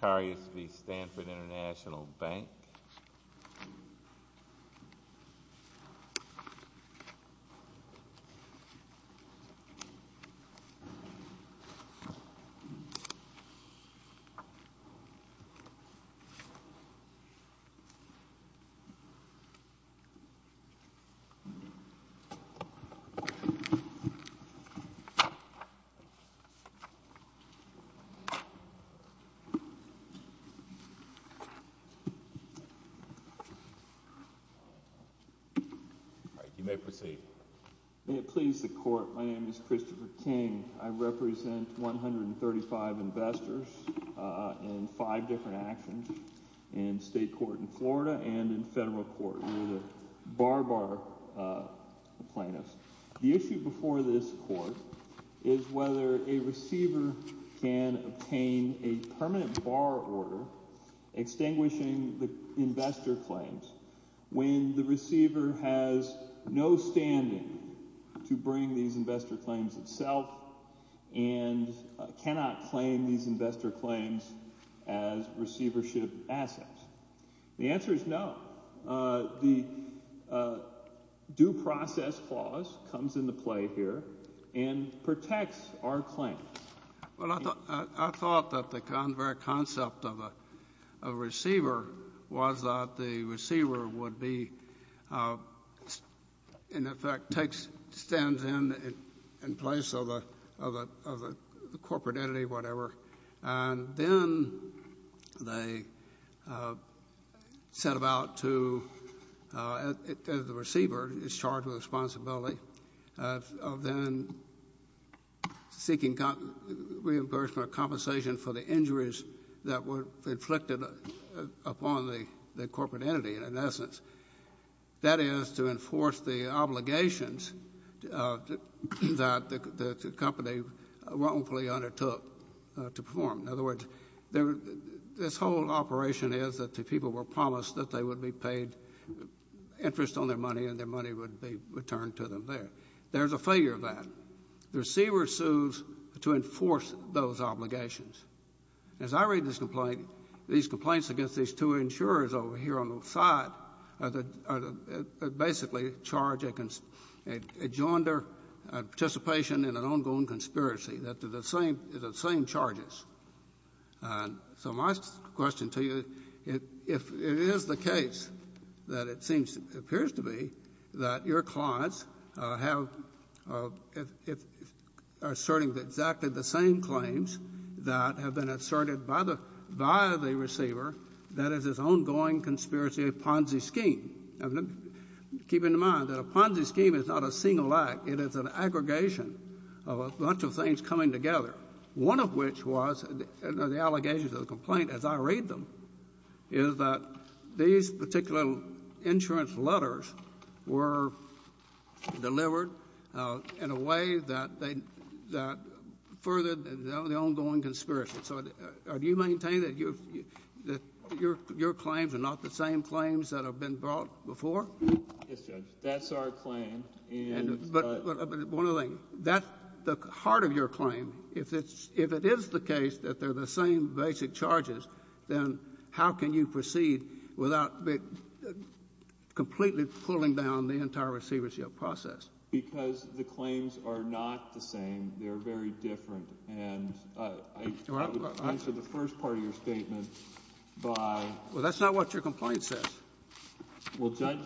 Zacharias v. Stanford International Bank Christopher King v. Barbara Plaintiffs Do process clause comes into play here and protects our claim? Well, I thought that the very concept of a receiver was that the receiver would be, in effect, takes, stands in place of the corporate entity, whatever, and then they set about to, the receiver is charged with responsibility of then seeking reimbursement or compensation for the injuries that were inflicted upon the corporate entity, in essence. That is, to enforce the obligations that the company wrongfully undertook to perform. In other words, this whole operation is that the people were promised that they would be paid interest on their money and their money would be returned to them there. There's a failure of that. The receiver sues to enforce those obligations. As I read this complaint, these complaints against these two insurers over here on the side basically charge a joinder participation in an ongoing conspiracy. They're the same charges. So my question to you, if it is the case that it seems, appears to be, that your clients are asserting exactly the same claims that have been asserted by the receiver, that is, this ongoing conspiracy of Ponzi scheme. Keep in mind that a Ponzi scheme is not a single act. It is an aggregation of a bunch of things coming together, one of which was the allegations of the complaint, as I read them, is that these particular insurance letters were delivered in a way that furthered the ongoing conspiracy. So do you maintain that your claims are not the same claims that have been brought before? Yes, Judge. That's our claim. But one other thing. The heart of your claim, if it is the case that they're the same basic charges, then how can you proceed without completely pulling down the entire receivership process? Because the claims are not the same. They're very different. And I would answer the first part of your statement by— Well, that's not what your complaint says. Well, Judge,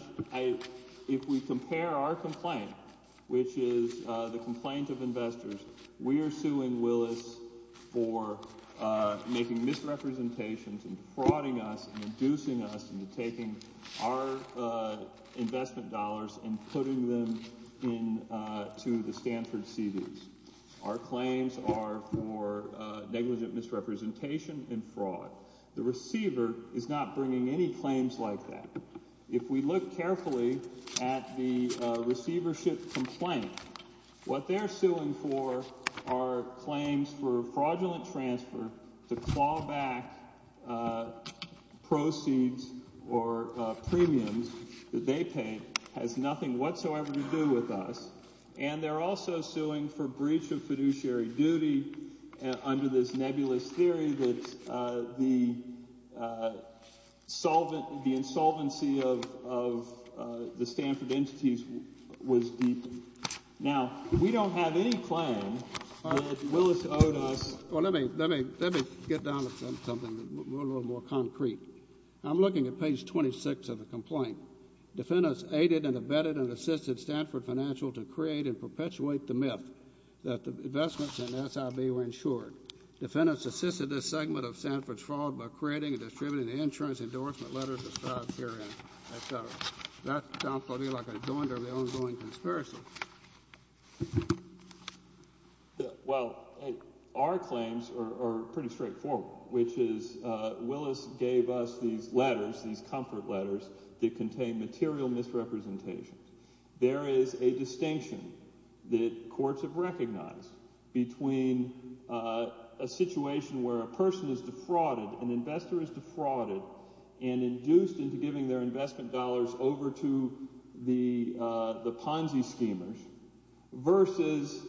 if we compare our complaint, which is the complaint of investors, we are suing Willis for making misrepresentations and frauding us and inducing us into taking our investment dollars and putting them into the Stanford CDs. Our claims are for negligent misrepresentation and fraud. The receiver is not bringing any claims like that. If we look carefully at the receivership complaint, what they're suing for are claims for fraudulent transfer to claw back proceeds or premiums that they pay. It has nothing whatsoever to do with us. And they're also suing for breach of fiduciary duty under this nebulous theory that the insolvency of the Stanford entities was deepened. Now, we don't have any claim that Willis owed us— Well, let me get down to something a little more concrete. I'm looking at page 26 of the complaint. Defendants aided and abetted and assisted Stanford Financial to create and perpetuate the myth that the investments in SIB were insured. Defendants assisted this segment of Stanford's fraud by creating and distributing the insurance endorsement letters described herein, etc. That sounds to me like a joinder of the ongoing conspiracy. Well, our claims are pretty straightforward, which is Willis gave us these letters, these comfort letters that contain material misrepresentations. There is a distinction that courts have recognized between a situation where a person is defrauded, an investor is defrauded and induced into giving their investment dollars over to the Ponzi schemers versus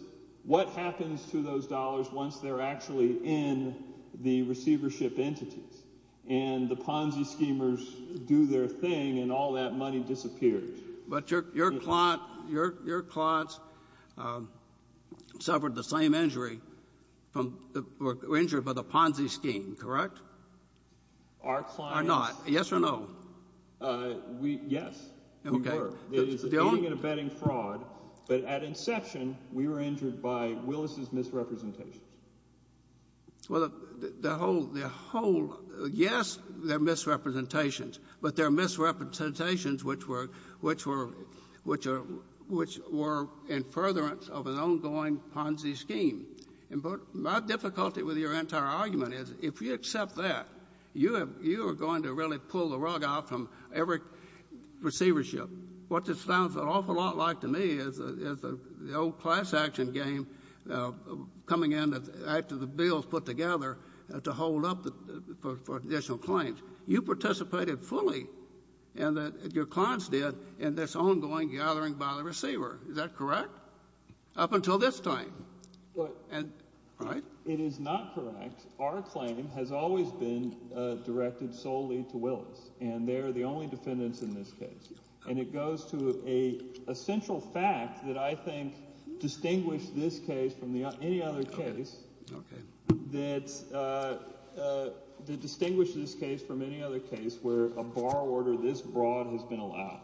what happens to those dollars once they're actually in the receivership entities. And the Ponzi schemers do their thing, and all that money disappears. But your clients suffered the same injury or were injured by the Ponzi scheme, correct? Our clients— Or not. Yes or no? Yes, we were. Okay. It is aiding and abetting fraud, but at inception, we were injured by Willis's misrepresentations. Well, the whole—yes, there are misrepresentations, but there are misrepresentations which were in furtherance of an ongoing Ponzi scheme. My difficulty with your entire argument is if you accept that, you are going to really pull the rug out from every receivership. What this sounds an awful lot like to me is the old class action game coming in after the bill is put together to hold up for additional claims. You participated fully, and your clients did, in this ongoing gathering by the receiver. Is that correct up until this time? But— Right? It is not correct. Our claim has always been directed solely to Willis, and they're the only defendants in this case. And it goes to an essential fact that I think distinguished this case from any other case— Okay. —that distinguished this case from any other case where a bar order this broad has been allowed,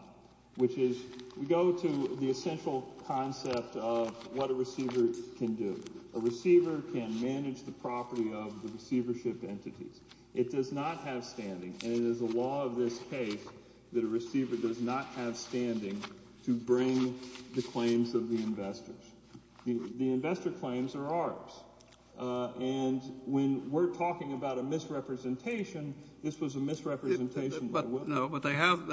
which is we go to the essential concept of what a receiver can do. A receiver can manage the property of the receivership entities. It does not have standing, and it is the law of this case that a receiver does not have standing to bring the claims of the investors. The investor claims are ours. And when we're talking about a misrepresentation, this was a misrepresentation by Willis. No, but they have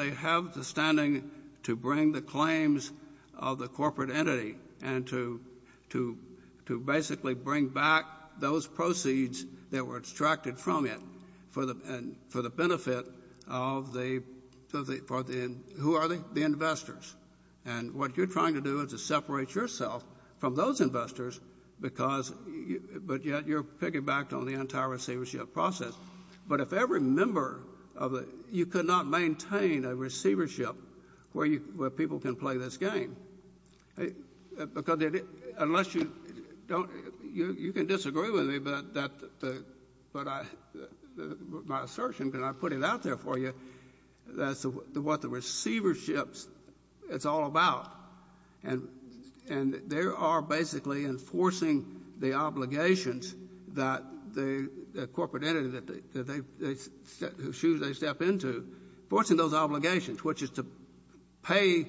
the standing to bring the claims of the corporate entity and to basically bring back those proceeds that were extracted from it for the benefit of the — who are they? The investors. And what you're trying to do is to separate yourself from those investors because — but yet you're piggybacked on the entire receivership process. But if every member of the — you could not maintain a receivership where people can play this game, because unless you don't — you can disagree with me, but my assertion, and I put it out there for you, that's what the receivership is all about. And they are basically enforcing the obligations that the corporate entity that they — whose shoes they step into, enforcing those obligations, which is to pay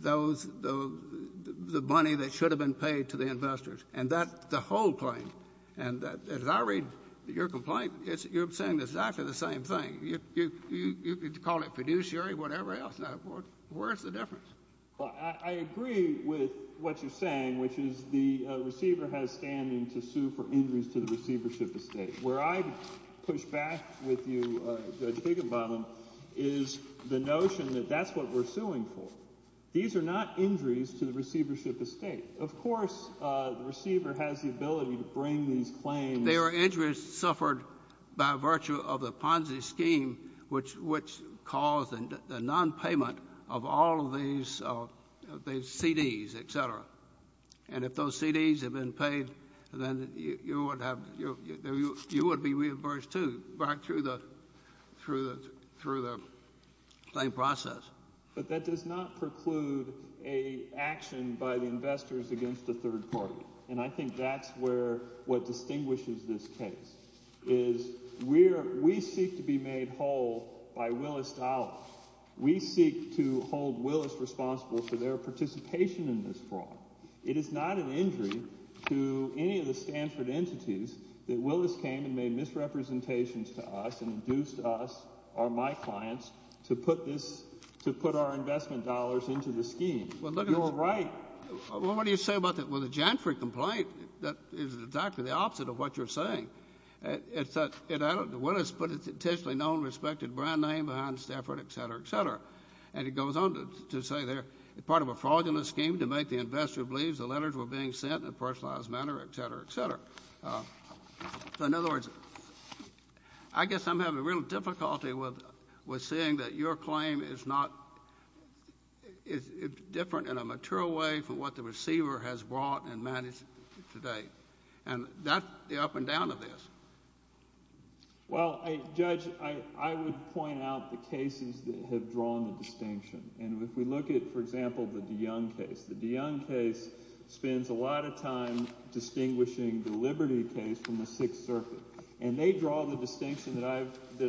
those — the money that should have been paid to the investors. And that's the whole claim. And as I read your complaint, you're saying exactly the same thing. You call it fiduciary, whatever else. Now, where is the difference? Well, I agree with what you're saying, which is the receiver has standing to sue for injuries to the receivership estate. Where I'd push back with you, Judge Higginbottom, is the notion that that's what we're suing for. These are not injuries to the receivership estate. Of course, the receiver has the ability to bring these claims — They are injuries suffered by virtue of the Ponzi scheme, which caused the nonpayment of all of these CDs, et cetera. And if those CDs had been paid, then you would have — you would be reimbursed, too, right through the claim process. But that does not preclude an action by the investors against the third party. And I think that's where — what distinguishes this case is we seek to be made whole by Willis Dollars. We seek to hold Willis responsible for their participation in this fraud. It is not an injury to any of the Stanford entities that Willis came and made misrepresentations to us and induced us or my clients to put this — to put our investment dollars into the scheme. You're right. Well, what do you say about that? Well, the Janford complaint is exactly the opposite of what you're saying. It's that Willis put an intentionally known, respected brand name behind Stanford, et cetera, et cetera. And it goes on to say they're part of a fraudulent scheme to make the investor believe the letters were being sent in a personalized manner, et cetera, et cetera. So in other words, I guess I'm having real difficulty with seeing that your claim is not — is different in a material way from what the receiver has brought and managed to date. And that's the up and down of this. Well, Judge, I would point out the cases that have drawn the distinction. And if we look at, for example, the de Young case, the de Young case spends a lot of time distinguishing the Liberty case from the Sixth Circuit. And they draw the distinction that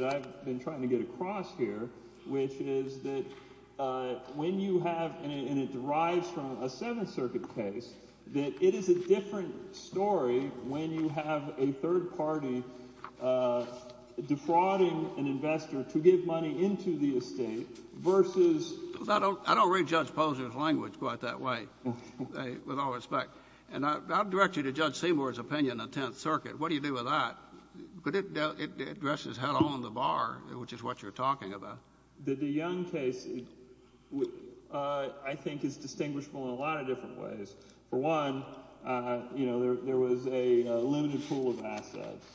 I've been trying to get across here, which is that when you have — and it derives from a Seventh Circuit case, that it is a different story when you have a third party defrauding an investor to give money into the estate versus — I don't read Judge Posner's language quite that way, with all respect. And I'll direct you to Judge Seymour's opinion of the Tenth Circuit. What do you do with that? It dresses hell on the bar, which is what you're talking about. The de Young case, I think, is distinguishable in a lot of different ways. For one, you know, there was a limited pool of assets.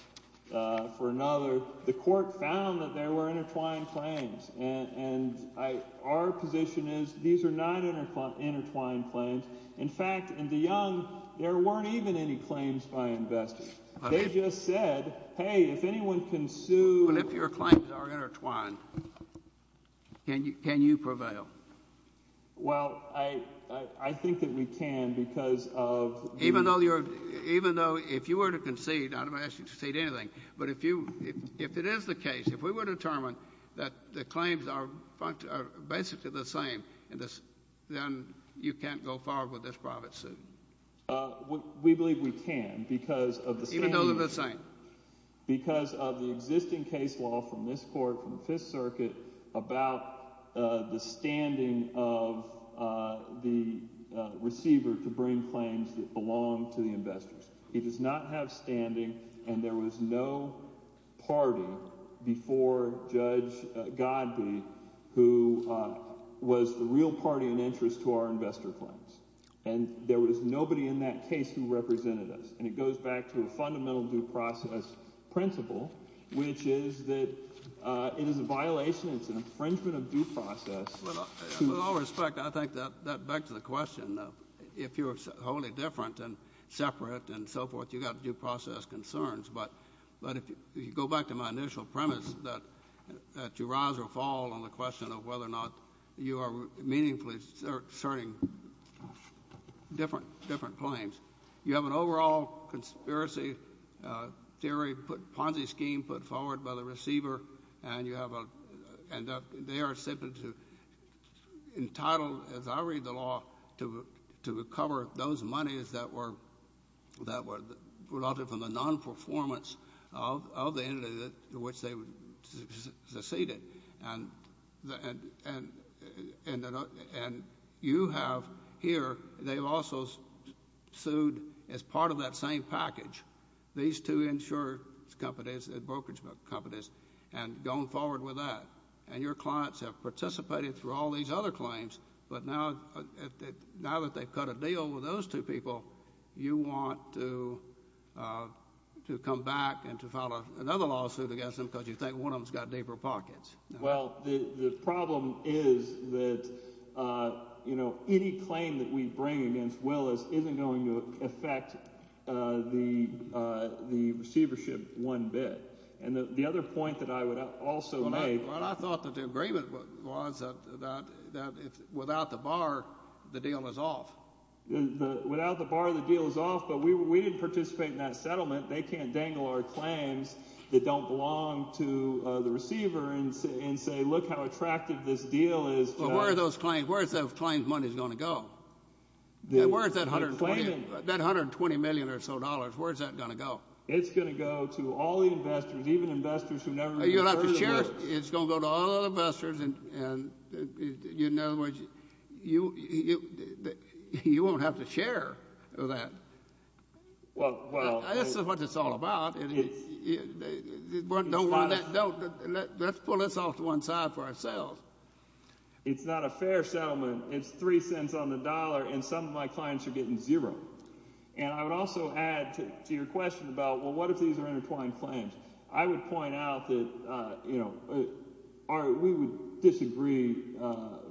For another, the Court found that there were intertwined claims. And our position is these are not intertwined claims. In fact, in de Young, there weren't even any claims by investors. They just said, hey, if anyone can sue — But if your claims are intertwined, can you prevail? Well, I think that we can because of — We believe we can because of the standing — Even though they're the same? Because of the existing case law from this court, from the Fifth Circuit, about the standing of the receiver to bring claims that belong to the investors. He does not have standing, and there was no party before Judge Godbee who was the real party in interest to our investor claims. And there was nobody in that case who represented us. And it goes back to a fundamental due process principle, which is that it is a violation. It's an infringement of due process. With all respect, I think that back to the question, if you're wholly different and separate and so forth, you've got due process concerns. But if you go back to my initial premise that you rise or fall on the question of whether or not you are meaningfully asserting different claims, you have an overall conspiracy theory, Ponzi scheme put forward by the receiver, and you have a — and they are simply entitled, as I read the law, to recover those monies that were — that were from the nonperformance of the entity to which they seceded. And you have here — they've also sued as part of that same package, these two insurance companies and brokerage companies, and gone forward with that. And your clients have participated through all these other claims, but now that they've cut a deal with those two people, you want to come back and to file another lawsuit against them because you think one of them has got deeper pockets. Well, the problem is that any claim that we bring against Willis isn't going to affect the receivership one bit. And the other point that I would also make— Well, I thought that the agreement was that without the bar, the deal is off. Without the bar, the deal is off. But we didn't participate in that settlement. They can't dangle our claims that don't belong to the receiver and say, look how attractive this deal is to us. But where are those claims? Where is that client's money going to go? Where is that $120 million or so dollars? Where is that going to go? It's going to go to all the investors, even investors who never even heard of Willis. It's going to go to all the investors. In other words, you won't have to share that. This is what it's all about. Let's pull this off to one side for ourselves. It's not a fair settlement. It's three cents on the dollar, and some of my clients are getting zero. And I would also add to your question about, well, what if these are intertwined claims? I would point out that, you know, we would disagree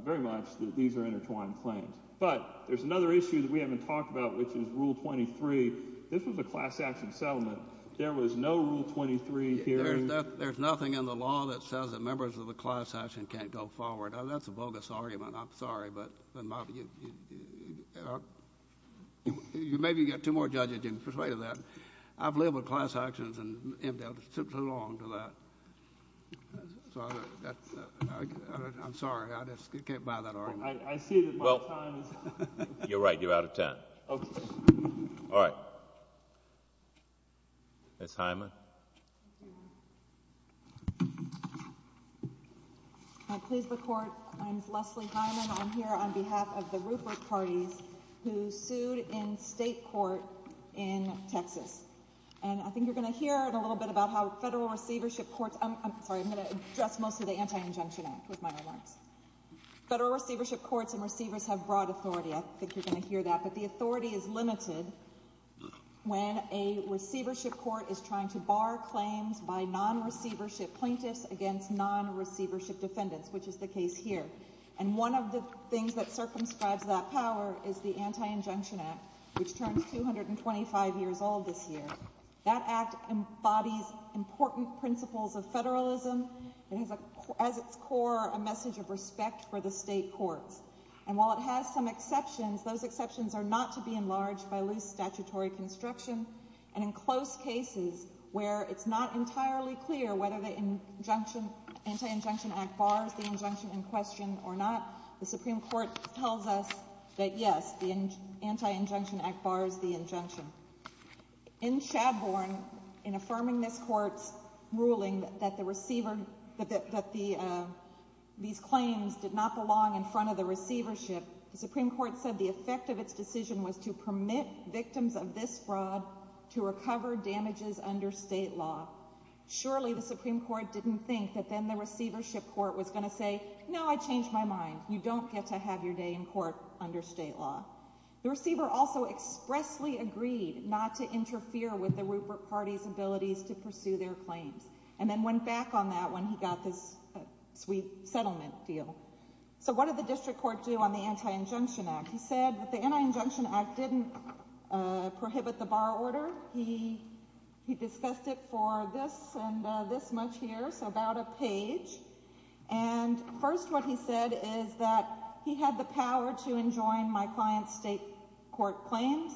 very much that these are intertwined claims. But there's another issue that we haven't talked about, which is Rule 23. This was a class action settlement. There was no Rule 23 hearing. There's nothing in the law that says that members of the class action can't go forward. That's a bogus argument. I'm sorry, but maybe you've got two more judges you can persuade of that. I've lived with class actions and indelibly took too long to that. So I'm sorry. I just can't buy that argument. I see that my time is up. You're right. You're out of time. Okay. All right. Ms. Hyman. Can I please have the Court? I'm Leslie Hyman. I'm here on behalf of the Rupert parties who sued in state court in Texas. And I think you're going to hear a little bit about how federal receivership courts—I'm sorry. I'm going to address most of the Anti-Injunction Act with my remarks. Federal receivership courts and receivers have broad authority. I think you're going to hear that. But the authority is limited when a receivership court is trying to bar claims by non-receivership plaintiffs against non-receivership defendants, which is the case here. And one of the things that circumscribes that power is the Anti-Injunction Act, which turns 225 years old this year. That act embodies important principles of federalism. It has as its core a message of respect for the state courts. And while it has some exceptions, those exceptions are not to be enlarged by loose statutory construction. And in close cases where it's not entirely clear whether the Anti-Injunction Act bars the injunction in question or not, the Supreme Court tells us that, yes, the Anti-Injunction Act bars the injunction. In Shadbourne, in affirming this court's ruling that these claims did not belong in front of the receivership, the Supreme Court said the effect of its decision was to permit victims of this fraud to recover damages under state law. Surely the Supreme Court didn't think that then the receivership court was going to say, no, I changed my mind. You don't get to have your day in court under state law. The receiver also expressly agreed not to interfere with the Rupert Party's abilities to pursue their claims, and then went back on that when he got this sweet settlement deal. So what did the district court do on the Anti-Injunction Act? He said that the Anti-Injunction Act didn't prohibit the bar order. He discussed it for this and this much here, so about a page. And first what he said is that he had the power to enjoin my client's state court claims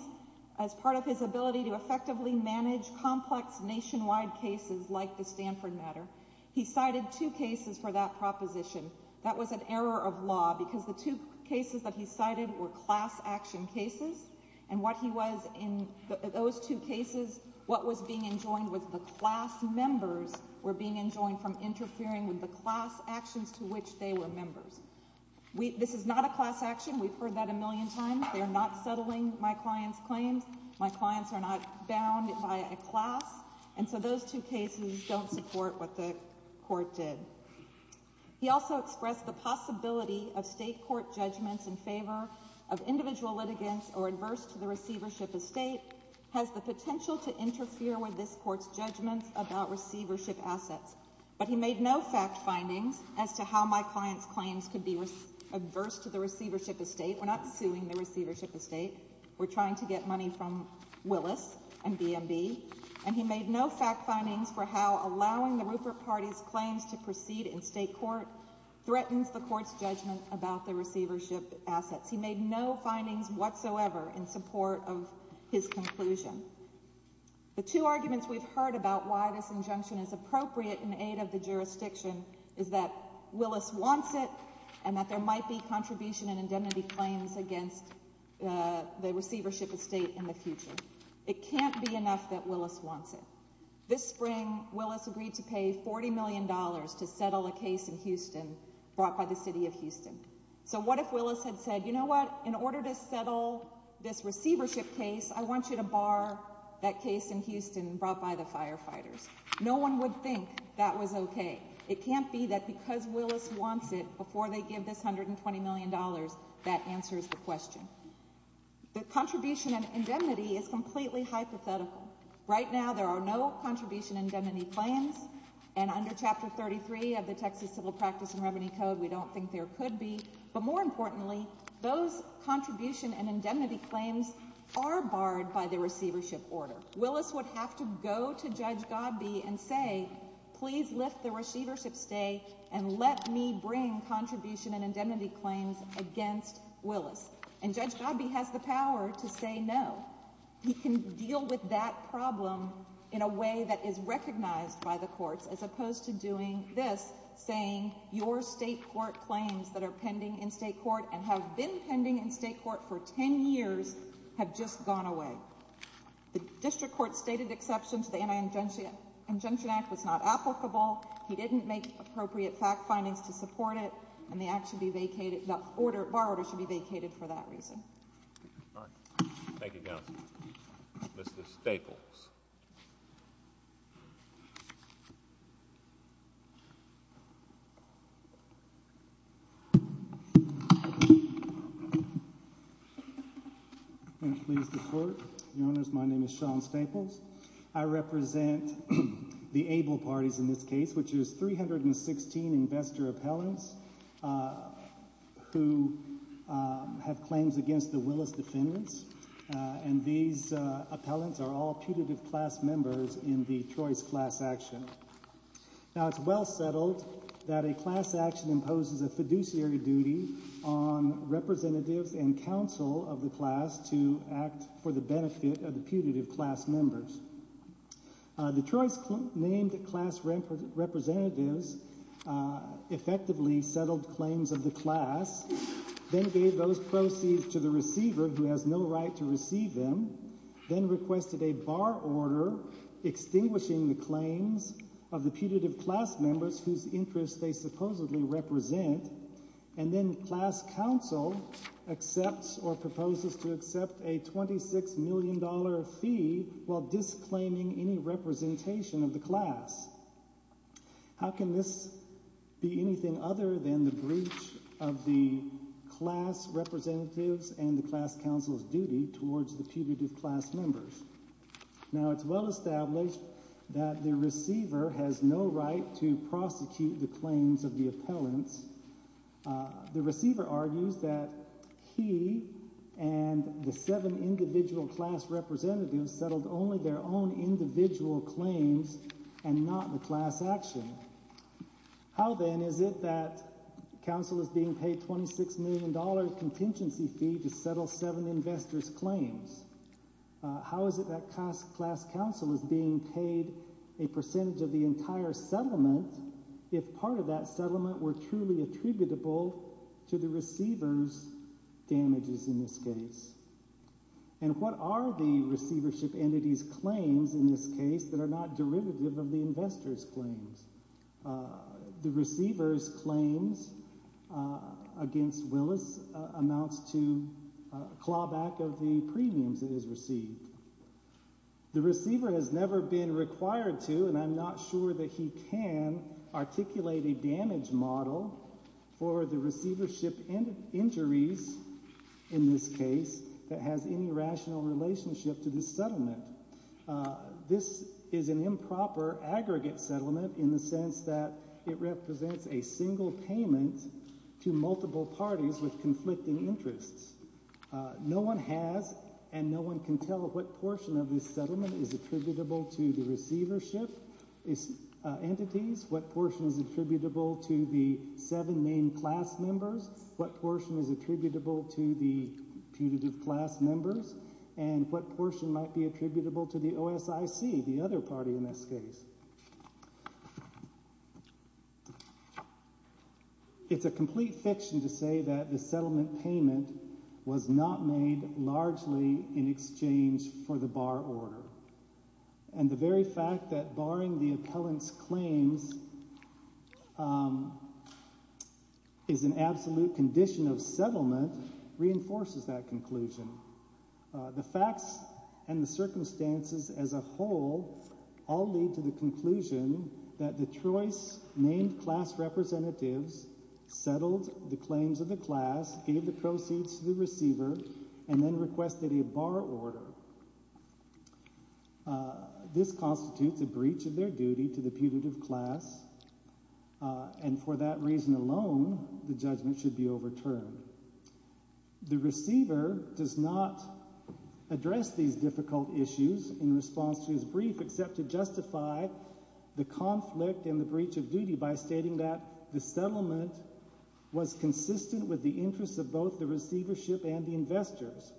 as part of his ability to effectively manage complex nationwide cases like the Stanford matter. He cited two cases for that proposition. That was an error of law because the two cases that he cited were class action cases. And what he was in those two cases, what was being enjoined was the class members were being enjoined from interfering with the class actions to which they were members. This is not a class action. We've heard that a million times. They're not settling my client's claims. My clients are not bound by a class. And so those two cases don't support what the court did. He also expressed the possibility of state court judgments in favor of individual litigants or adverse to the receivership estate has the potential to interfere with this court's judgments about receivership assets. But he made no fact findings as to how my client's claims could be adverse to the receivership estate. We're not suing the receivership estate. We're trying to get money from Willis and BNB. And he made no fact findings for how allowing the Rupert Party's claims to proceed in state court threatens the court's judgment about the receivership assets. He made no findings whatsoever in support of his conclusion. The two arguments we've heard about why this injunction is appropriate in aid of the jurisdiction is that Willis wants it and that there might be contribution and indemnity claims against the receivership estate in the future. It can't be enough that Willis wants it. This spring, Willis agreed to pay $40 million to settle a case in Houston brought by the city of Houston. So what if Willis had said, you know what, in order to settle this receivership case, I want you to bar that case in Houston brought by the firefighters? No one would think that was OK. It can't be that because Willis wants it before they give this $120 million, that answers the question. The contribution and indemnity is completely hypothetical. Right now, there are no contribution indemnity claims. And under Chapter 33 of the Texas Civil Practice and Remedy Code, we don't think there could be. But more importantly, those contribution and indemnity claims are barred by the receivership order. Willis would have to go to Judge Godbee and say, please lift the receivership stay and let me bring contribution and indemnity claims against Willis. And Judge Godbee has the power to say no. He can deal with that problem in a way that is recognized by the courts as opposed to doing this, saying your state court claims that are pending in state court and have been pending in state court for 10 years have just gone away. The district court stated exception to the Anti-Injunction Act was not applicable. He didn't make appropriate fact findings to support it. And the bar order should be vacated for that reason. All right. Thank you, counsel. Mr. Staples. May it please the court. Your Honors, my name is Sean Staples. I represent the able parties in this case, which is 316 investor appellants who have claims against the Willis defendants. And these appellants are all putative class members in the choice class action. Now, it's well settled that a class action imposes a fiduciary duty on representatives and counsel of the class to act for the benefit of the putative class members. The choice named class representatives effectively settled claims of the class, then gave those proceeds to the receiver who has no right to receive them, then requested a bar order extinguishing the claims of the putative class members whose interests they supposedly represent. And then class counsel accepts or proposes to accept a $26 million fee while disclaiming any representation of the class. How can this be anything other than the breach of the class representatives and the class counsel's duty towards the putative class members? Now, it's well established that the receiver has no right to prosecute the claims of the appellants. The receiver argues that he and the seven individual class representatives settled only their own individual claims and not the class action. How then is it that counsel is being paid $26 million contingency fee to settle seven investors claims? How is it that class counsel is being paid a percentage of the entire settlement if part of that settlement were truly attributable to the receivers damages in this case? And what are the receivership entities claims in this case that are not derivative of the investors claims? The receivers claims against Willis amounts to a clawback of the premiums that is received. The receiver has never been required to, and I'm not sure that he can, articulate a damage model for the receivership injuries in this case that has any rational relationship to this settlement. This is an improper aggregate settlement in the sense that it represents a single payment to multiple parties with conflicting interests. No one has, and no one can tell what portion of this settlement is attributable to the receivership entities, what portion is attributable to the seven main class members, what portion is attributable to the putative class members, and what portion might be attributable to the OSIC, the other party in this case. It's a complete fiction to say that the settlement payment was not made largely in exchange for the bar order. And the very fact that barring the appellant's claims is an absolute condition of settlement reinforces that conclusion. The facts and the circumstances as a whole all lead to the conclusion that the choice named class representatives settled the claims of the class, gave the proceeds to the receiver, and then requested a bar order. This constitutes a breach of their duty to the putative class, and for that reason alone, the judgment should be overturned. The receiver does not address these difficult issues in response to his brief except to justify the conflict and the breach of duty by stating that the settlement was consistent with the interests of both the receivership and the investors.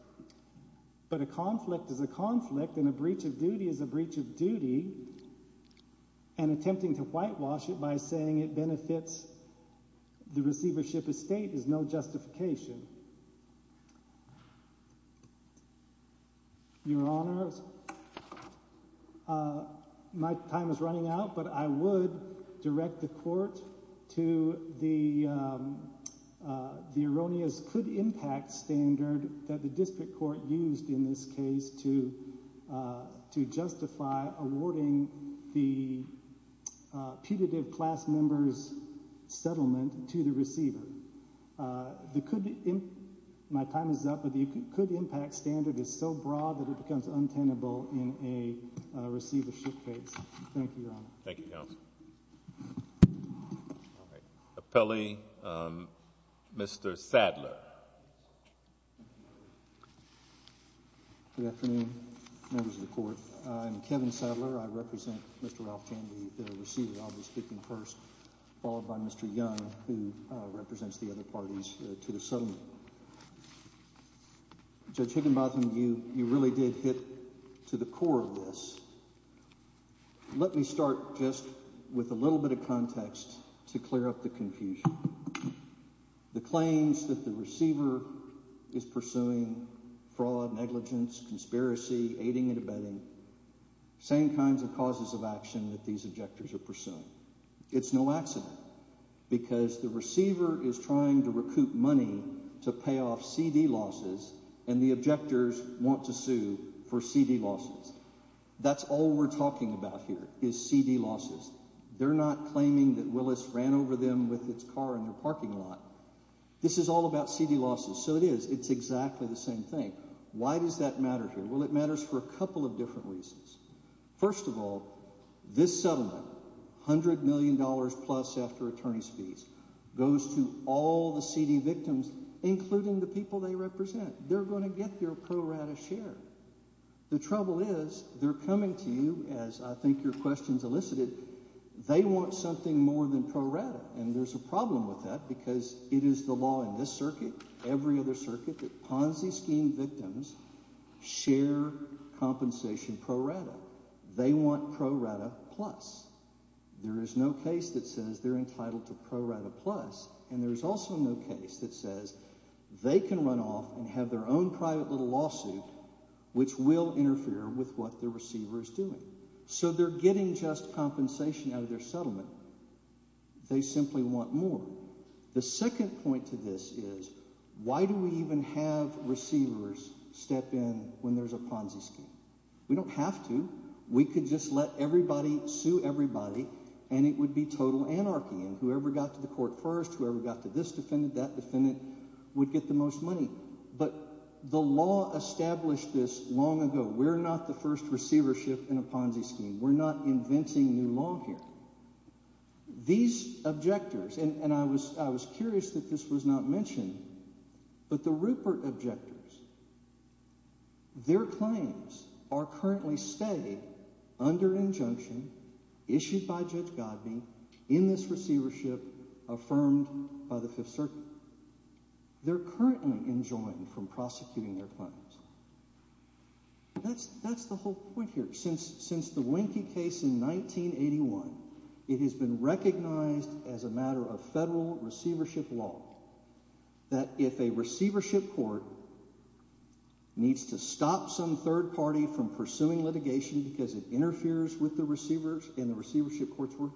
But a conflict is a conflict, and a breach of duty is a breach of duty, and attempting to whitewash it by saying it benefits the receivership estate is no justification. Your Honor, my time is running out, but I would direct the court to the erroneous could impact standard that the district court used in this case to justify awarding the putative class member's settlement to the receiver. My time is up, but the could impact standard is so broad that it becomes untenable in a receivership case. Thank you, Your Honor. Thank you, counsel. Appellee, Mr. Sadler. Good afternoon, members of the court. I'm Kevin Sadler. I represent Mr. Ralph. Can we receive it? I'll be speaking first, followed by Mr. Young, who represents the other parties to the settlement. Judge Higginbotham, you really did hit to the core of this. Let me start just with a little bit of context to clear up the confusion. The claims that the receiver is pursuing fraud, negligence, conspiracy, aiding and abetting, same kinds of causes of action that these objectors are pursuing. It's no accident because the receiver is trying to recoup money to pay off C.D. losses, and the objectors want to sue for C.D. losses. That's all we're talking about here is C.D. losses. They're not claiming that Willis ran over them with its car in their parking lot. This is all about C.D. losses. So it is. It's exactly the same thing. Why does that matter here? Well, it matters for a couple of different reasons. First of all, this settlement, $100 million plus after attorney's fees, goes to all the C.D. victims, including the people they represent. They're going to get their pro rata share. The trouble is they're coming to you, as I think your questions elicited. They want something more than pro rata, and there's a problem with that because it is the law in this circuit, every other circuit, that Ponzi scheme victims share compensation pro rata. They want pro rata plus. There is no case that says they're entitled to pro rata plus, and there's also no case that says they can run off and have their own private little lawsuit, which will interfere with what the receiver is doing. So they're getting just compensation out of their settlement. They simply want more. The second point to this is why do we even have receivers step in when there's a Ponzi scheme? We don't have to. We could just let everybody sue everybody, and it would be total anarchy, and whoever got to the court first, whoever got to this defendant, that defendant would get the most money. But the law established this long ago. We're not the first receivership in a Ponzi scheme. We're not inventing new law here. These objectors, and I was curious that this was not mentioned, but the Rupert objectors, their claims are currently stayed under injunction issued by Judge Godbee in this receivership affirmed by the Fifth Circuit. They're currently enjoined from prosecuting their claims. That's the whole point here. Since the Wienke case in 1981, it has been recognized as a matter of federal receivership law that if a receivership court needs to stop some third party from pursuing litigation because it interferes with the receivers in the receivership court's work,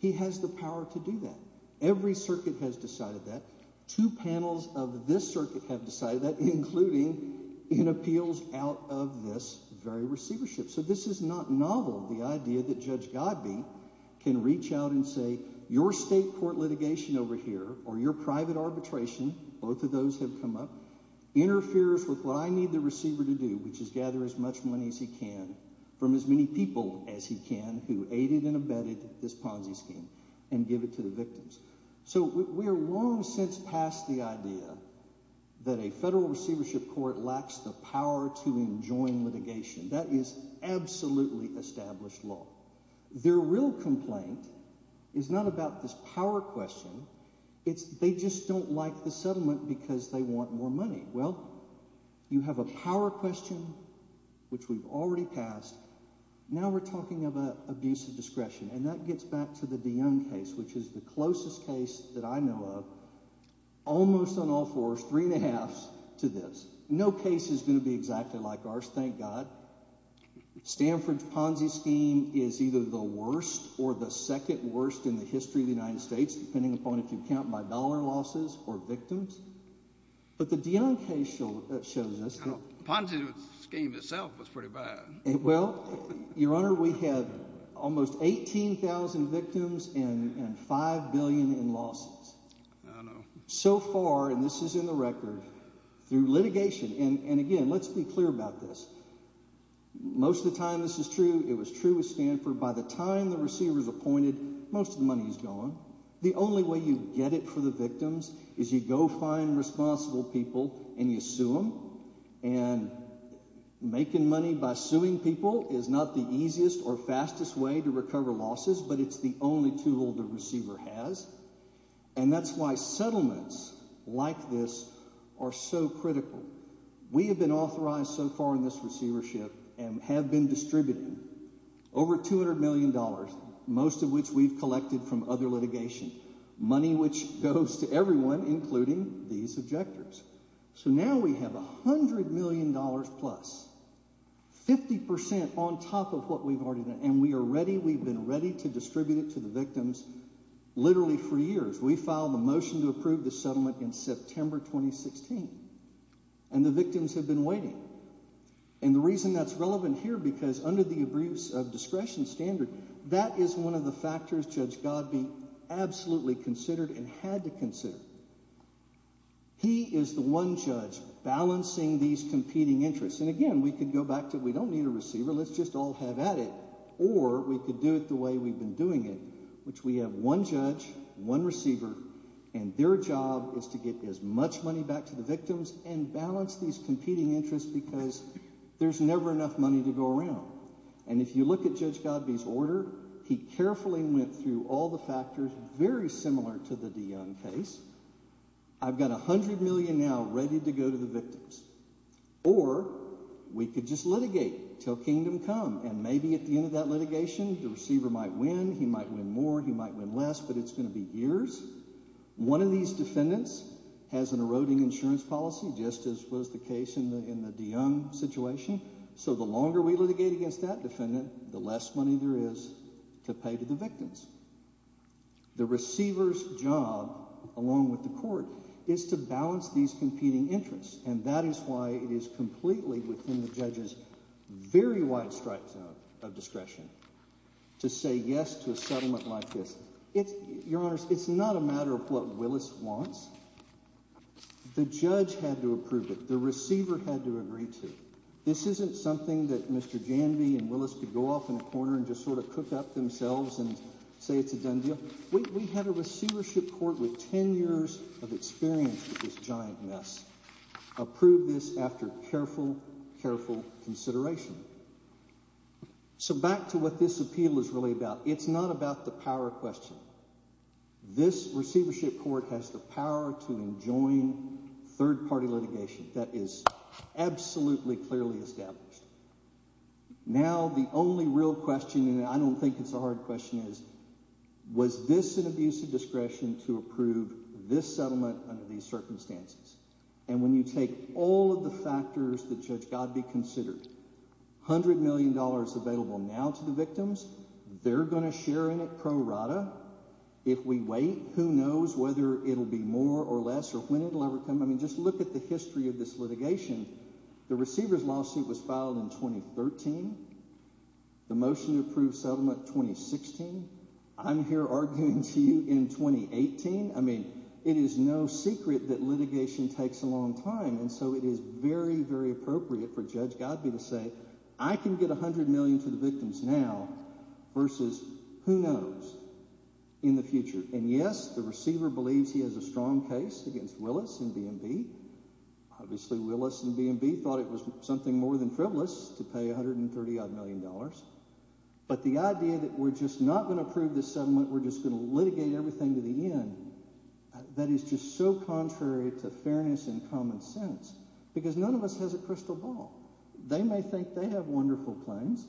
he has the power to do that. Every circuit has decided that. Two panels of this circuit have decided that, including in appeals out of this very receivership. So this is not novel, the idea that Judge Godbee can reach out and say your state court litigation over here or your private arbitration, both of those have come up, interferes with what I need the receiver to do, which is gather as much money as he can from as many people as he can who aided and abetted this Ponzi scheme and give it to the victims. So we are long since past the idea that a federal receivership court lacks the power to enjoin litigation. That is absolutely established law. Their real complaint is not about this power question. It's they just don't like the settlement because they want more money. Well, you have a power question, which we've already passed. Now we're talking about abuse of discretion. And that gets back to the Dionne case, which is the closest case that I know of, almost on all fours, three and a half to this. No case is going to be exactly like ours, thank God. Stanford's Ponzi scheme is either the worst or the second worst in the history of the United States, depending upon if you count by dollar losses or victims. But the Dionne case shows us that. Ponzi scheme itself was pretty bad. Well, Your Honor, we had almost 18,000 victims and five billion in losses. I know. So far, and this is in the record, through litigation and again, let's be clear about this. Most of the time this is true. It was true with Stanford. By the time the receiver is appointed, most of the money is gone. The only way you get it for the victims is you go find responsible people and you sue them. And making money by suing people is not the easiest or fastest way to recover losses, but it's the only tool the receiver has. And that's why settlements like this are so critical. We have been authorized so far in this receivership and have been distributing over $200 million, most of which we've collected from other litigation, money which goes to everyone, including these objectors. So now we have $100 million plus, 50 percent on top of what we've already done, and we are ready. We've been ready to distribute it to the victims literally for years. We filed a motion to approve the settlement in September 2016, and the victims have been waiting. And the reason that's relevant here, because under the abuse of discretion standard, that is one of the factors Judge Godbee absolutely considered and had to consider. He is the one judge balancing these competing interests. And again, we could go back to we don't need a receiver, let's just all have at it, or we could do it the way we've been doing it, which we have one judge, one receiver, and their job is to get as much money back to the victims and balance these competing interests because there's never enough money to go around. And if you look at Judge Godbee's order, he carefully went through all the factors very similar to the DeYoung case. I've got $100 million now ready to go to the victims. Or we could just litigate till kingdom come, and maybe at the end of that litigation, the receiver might win, he might win more, he might win less, but it's going to be years. One of these defendants has an eroding insurance policy, just as was the case in the DeYoung situation. So the longer we litigate against that defendant, the less money there is to pay to the victims. The receiver's job, along with the court, is to balance these competing interests, and that is why it is completely within the judge's very wide strike zone of discretion to say yes to a settlement like this. Your Honors, it's not a matter of what Willis wants. The judge had to approve it. The receiver had to agree to it. This isn't something that Mr. Janvey and Willis could go off in a corner and just sort of cook up themselves and say it's a done deal. We had a receivership court with ten years of experience with this giant mess approve this after careful, careful consideration. So back to what this appeal is really about. It's not about the power question. This receivership court has the power to enjoin third-party litigation. That is absolutely clearly established. Now the only real question, and I don't think it's a hard question, is was this an abuse of discretion to approve this settlement under these circumstances? And when you take all of the factors that Judge Godbee considered, $100 million available now to the victims, they're going to share in it pro rata. If we wait, who knows whether it will be more or less or when it will ever come. I mean just look at the history of this litigation. The receiver's lawsuit was filed in 2013. The motion to approve settlement 2016. I'm here arguing to you in 2018. I mean it is no secret that litigation takes a long time, and so it is very, very appropriate for Judge Godbee to say I can get $100 million to the victims now versus who knows in the future. And yes, the receiver believes he has a strong case against Willis and B&B. Obviously Willis and B&B thought it was something more than frivolous to pay $130-odd million. But the idea that we're just not going to approve this settlement, we're just going to litigate everything to the end, that is just so contrary to fairness and common sense because none of us has a crystal ball. They may think they have wonderful claims.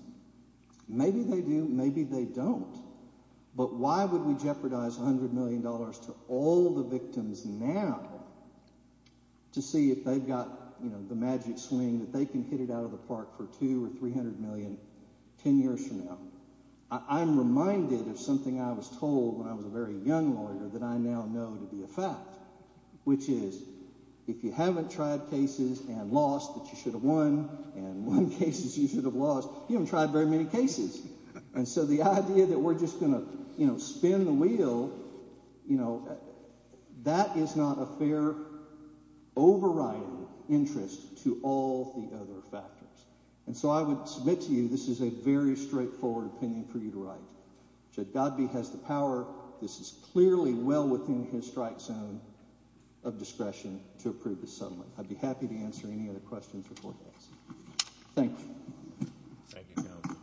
Maybe they do. Maybe they don't. But why would we jeopardize $100 million to all the victims now to see if they've got the magic swing that they can hit it out of the park for $200 million or $300 million ten years from now? I'm reminded of something I was told when I was a very young lawyer that I now know to be a fact, which is if you haven't tried cases and lost that you should have won and won cases you should have lost, you haven't tried very many cases. And so the idea that we're just going to spin the wheel, that is not a fair overriding interest to all the other factors. And so I would submit to you this is a very straightforward opinion for you to write. Judd Godbee has the power. This is clearly well within his strike zone of discretion to approve this settlement. I'd be happy to answer any other questions or questions. Thank you. Thank you, Counsel.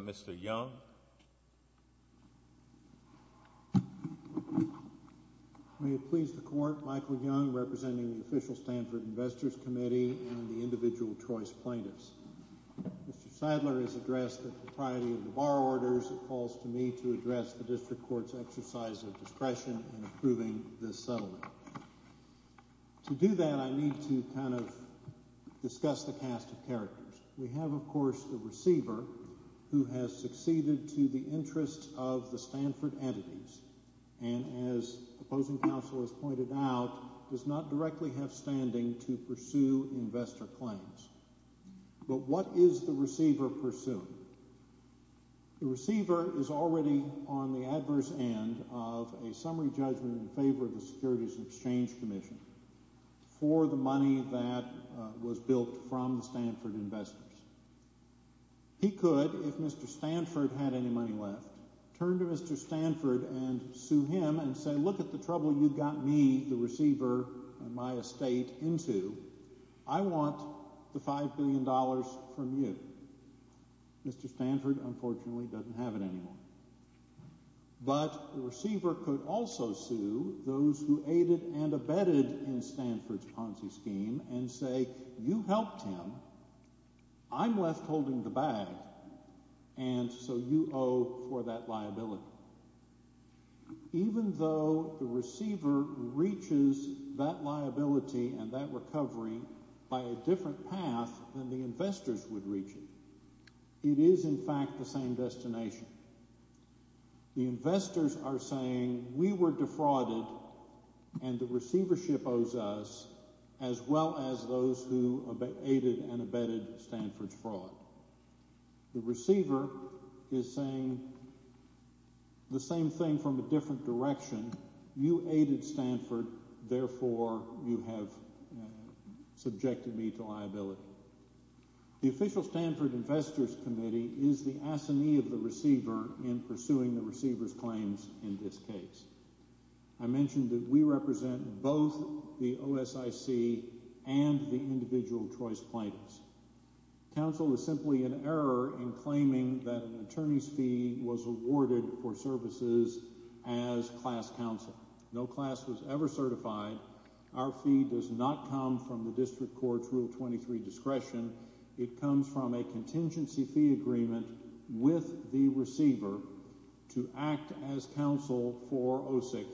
Mr. Young. May it please the Court, Michael Young representing the official Stanford Investors Committee and the individual choice plaintiffs. Mr. Sadler has addressed the propriety of the bar orders and calls to me to address the district court's exercise of discretion in approving this settlement. To do that, I need to kind of discuss the cast of characters. We have, of course, the receiver who has succeeded to the interest of the Stanford entities and, as opposing counsel has pointed out, does not directly have standing to pursue investor claims. But what is the receiver pursuing? The receiver is already on the adverse end of a summary judgment in favor of the Securities and Exchange Commission for the money that was built from the Stanford investors. He could, if Mr. Stanford had any money left, turn to Mr. Stanford and sue him and say, look at the trouble you got me, the receiver, and my estate into. I want the $5 billion from you. Mr. Stanford, unfortunately, doesn't have it anymore. But the receiver could also sue those who aided and abetted in Stanford's Ponzi scheme and say, you helped him, I'm left holding the bag, and so you owe for that liability. Even though the receiver reaches that liability and that recovery by a different path than the investors would reach it, it is in fact the same destination. The investors are saying we were defrauded and the receivership owes us as well as those who aided and abetted Stanford's fraud. The receiver is saying the same thing from a different direction. You aided Stanford, therefore you have subjected me to liability. The official Stanford Investors Committee is the assignee of the receiver in pursuing the receiver's claims in this case. I mentioned that we represent both the OSIC and the individual choice plaintiffs. Counsel is simply in error in claiming that an attorney's fee was awarded for services as class counsel. No class was ever certified. Our fee does not come from the district court's Rule 23 discretion. It comes from a contingency fee agreement with the receiver to act as counsel for OSIC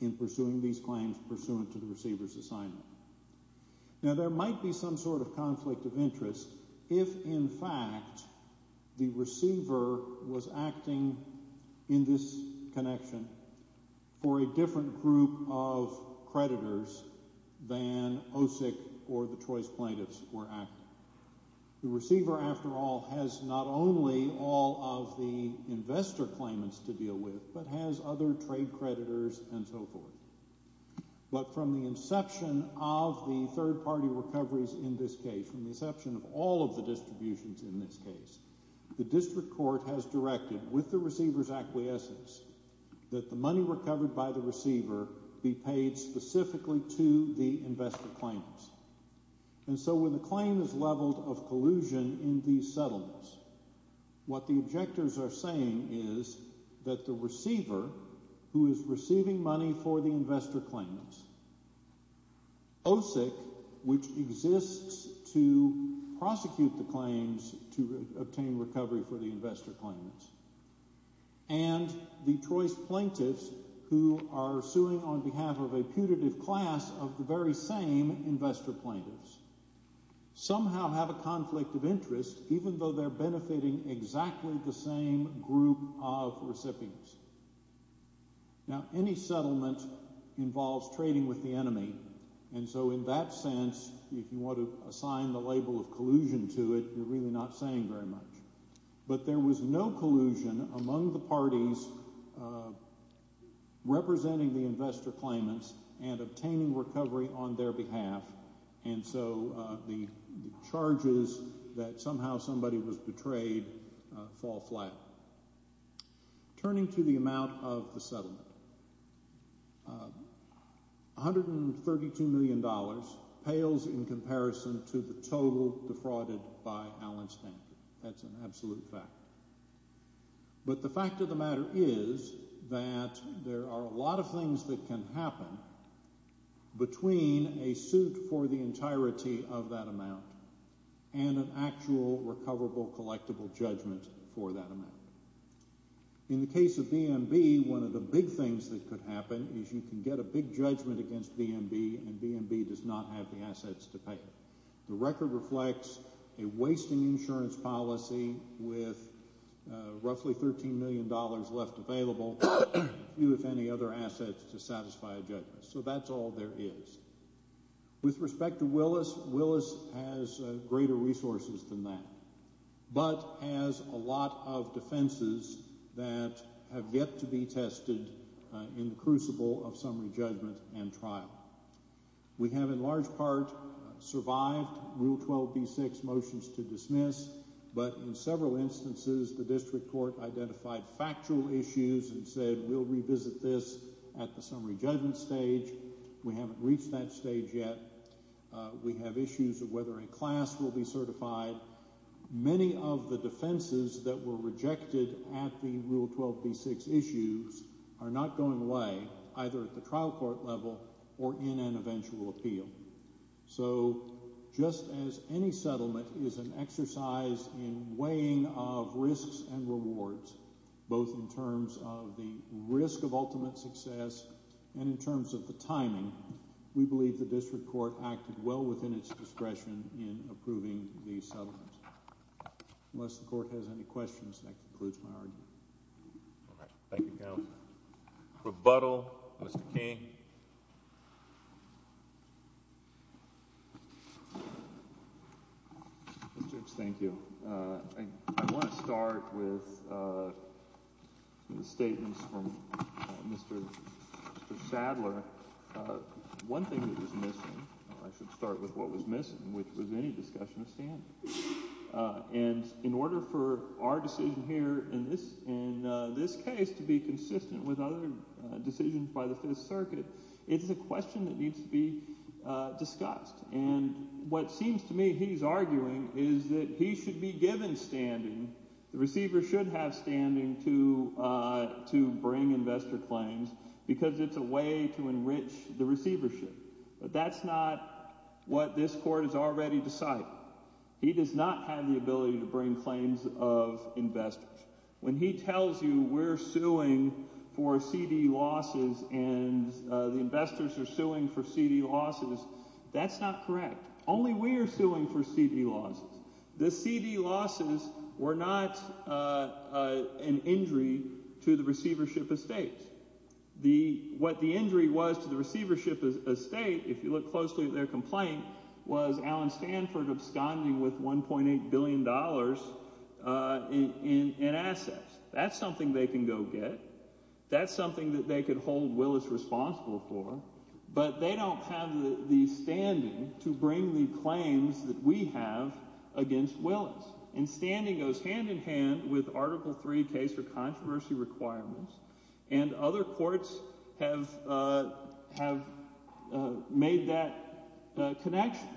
in pursuing these claims pursuant to the receiver's assignment. Now there might be some sort of conflict of interest if in fact the receiver was acting in this connection for a different group of creditors than OSIC or the choice plaintiffs were acting. The receiver, after all, has not only all of the investor claimants to deal with but has other trade creditors and so forth. But from the inception of the third-party recoveries in this case, from the inception of all of the distributions in this case, the district court has directed with the receiver's acquiescence that the money recovered by the receiver be paid specifically to the investor claimants. And so when the claim is leveled of collusion in these settlements, what the objectors are saying is that the receiver, who is receiving money for the investor claimants, OSIC, which exists to prosecute the claims to obtain recovery for the investor claimants, and the choice plaintiffs who are suing on behalf of a putative class of the very same investor plaintiffs, somehow have a conflict of interest even though they're benefiting exactly the same group of recipients. Now any settlement involves trading with the enemy, and so in that sense, if you want to assign the label of collusion to it, you're really not saying very much. But there was no collusion among the parties representing the investor claimants and obtaining recovery on their behalf, and so the charges that somehow somebody was betrayed fall flat. Turning to the amount of the settlement, $132 million pales in comparison to the total defrauded by Allen Stanford. That's an absolute fact. But the fact of the matter is that there are a lot of things that can happen between a suit for the entirety of that amount and an actual recoverable, collectible judgment for that amount. In the case of BMB, one of the big things that could happen is you can get a big judgment against BMB, and BMB does not have the assets to pay. The record reflects a wasting insurance policy with roughly $13 million left available, few if any other assets to satisfy a judgment. So that's all there is. With respect to Willis, Willis has greater resources than that, but has a lot of defenses that have yet to be tested in the crucible of summary judgment and trial. We have in large part survived Rule 12b-6 motions to dismiss, but in several instances the district court identified factual issues and said we'll revisit this at the summary judgment stage. We haven't reached that stage yet. We have issues of whether a class will be certified. Many of the defenses that were rejected at the Rule 12b-6 issues are not going away, either at the trial court level or in an eventual appeal. So just as any settlement is an exercise in weighing of risks and rewards, both in terms of the risk of ultimate success and in terms of the timing, we believe the district court acted well within its discretion in approving the settlement. Unless the court has any questions, that concludes my argument. All right. Thank you, Counsel. Rebuttal, Mr. King. Mr. Judge, thank you. I want to start with the statements from Mr. Sadler. One thing that was missing, or I should start with what was missing, which was any discussion of standing. And in order for our decision here in this case to be consistent with other decisions by the Fifth Circuit, it's a question that needs to be discussed. And what seems to me he's arguing is that he should be given standing. The receiver should have standing to bring investor claims because it's a way to enrich the receivership. But that's not what this court has already decided. He does not have the ability to bring claims of investors. When he tells you we're suing for C.D. losses and the investors are suing for C.D. losses, that's not correct. Only we are suing for C.D. losses. The C.D. losses were not an injury to the receivership estate. What the injury was to the receivership estate, if you look closely at their complaint, was Allen Stanford absconding with $1.8 billion in assets. That's something they can go get. That's something that they could hold Willis responsible for. But they don't have the standing to bring the claims that we have against Willis. And standing goes hand in hand with Article III case for controversy requirements. And other courts have made that connection.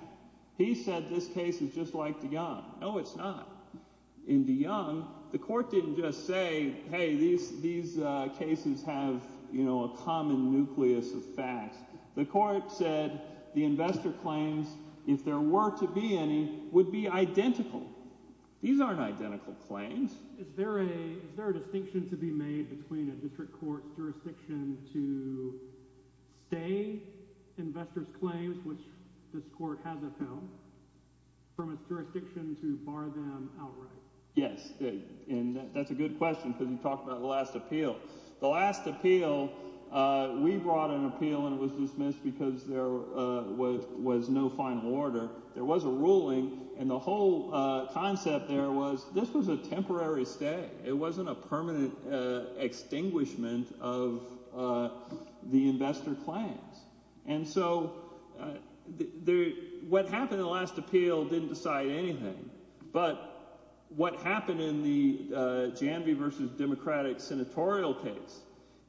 He said this case is just like DeYoung. No, it's not. In DeYoung, the court didn't just say, hey, these cases have a common nucleus of facts. The court said the investor claims, if there were to be any, would be identical. These aren't identical claims. Is there a distinction to be made between a district court's jurisdiction to stay investors' claims, which this court has upheld, from its jurisdiction to bar them outright? Yes, and that's a good question because you talked about the last appeal. The last appeal, we brought an appeal, and it was dismissed because there was no final order. There was a ruling, and the whole concept there was this was a temporary stay. It wasn't a permanent extinguishment of the investor claims. And so what happened in the last appeal didn't decide anything. But what happened in the Janvey v. Democratic senatorial case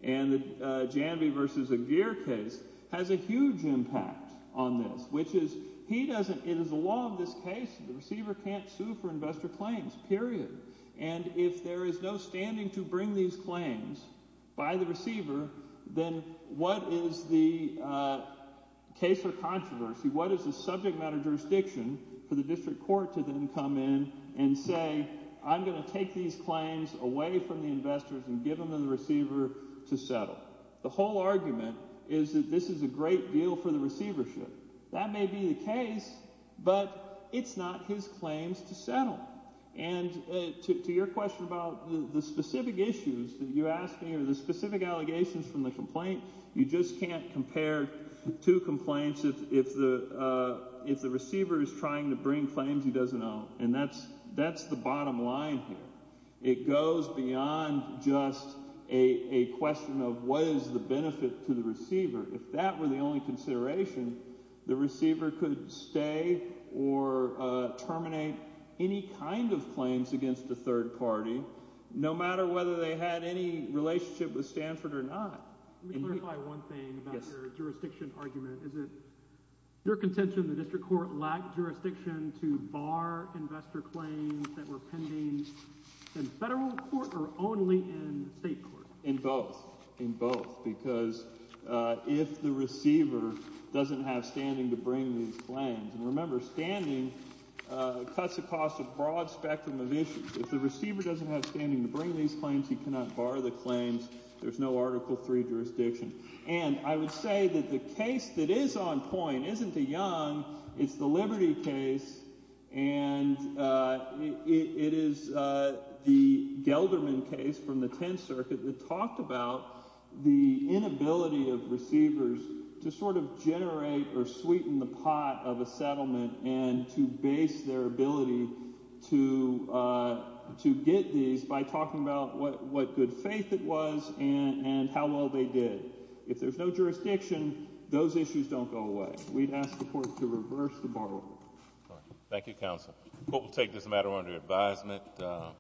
and the Janvey v. Aguirre case has a huge impact on this, which is he doesn't – it is the law of this case. The receiver can't sue for investor claims, period. And if there is no standing to bring these claims by the receiver, then what is the case for controversy? What is the subject matter jurisdiction for the district court to then come in and say I'm going to take these claims away from the investors and give them to the receiver to settle? The whole argument is that this is a great deal for the receivership. That may be the case, but it's not his claims to settle. And to your question about the specific issues that you asked me or the specific allegations from the complaint, you just can't compare two complaints if the receiver is trying to bring claims he doesn't own. And that's the bottom line here. It goes beyond just a question of what is the benefit to the receiver. If that were the only consideration, the receiver could stay or terminate any kind of claims against a third party, no matter whether they had any relationship with Stanford or not. Let me clarify one thing about your jurisdiction argument. Is it your contention the district court lacked jurisdiction to bar investor claims that were pending in federal court or only in state court? In both. In both. And I would say that the case that is on point isn't the Young. It's the Liberty case. And it is the Gelderman case from the 10th Circuit that talked about the inability of receivers to sort of generate or sweeten the pot of a settlement and to base their ability to get these by talking about what good faith it was and how well they did. If there's no jurisdiction, those issues don't go away. We'd ask the court to reverse the bar. Thank you, counsel. We'll take this matter under advisement.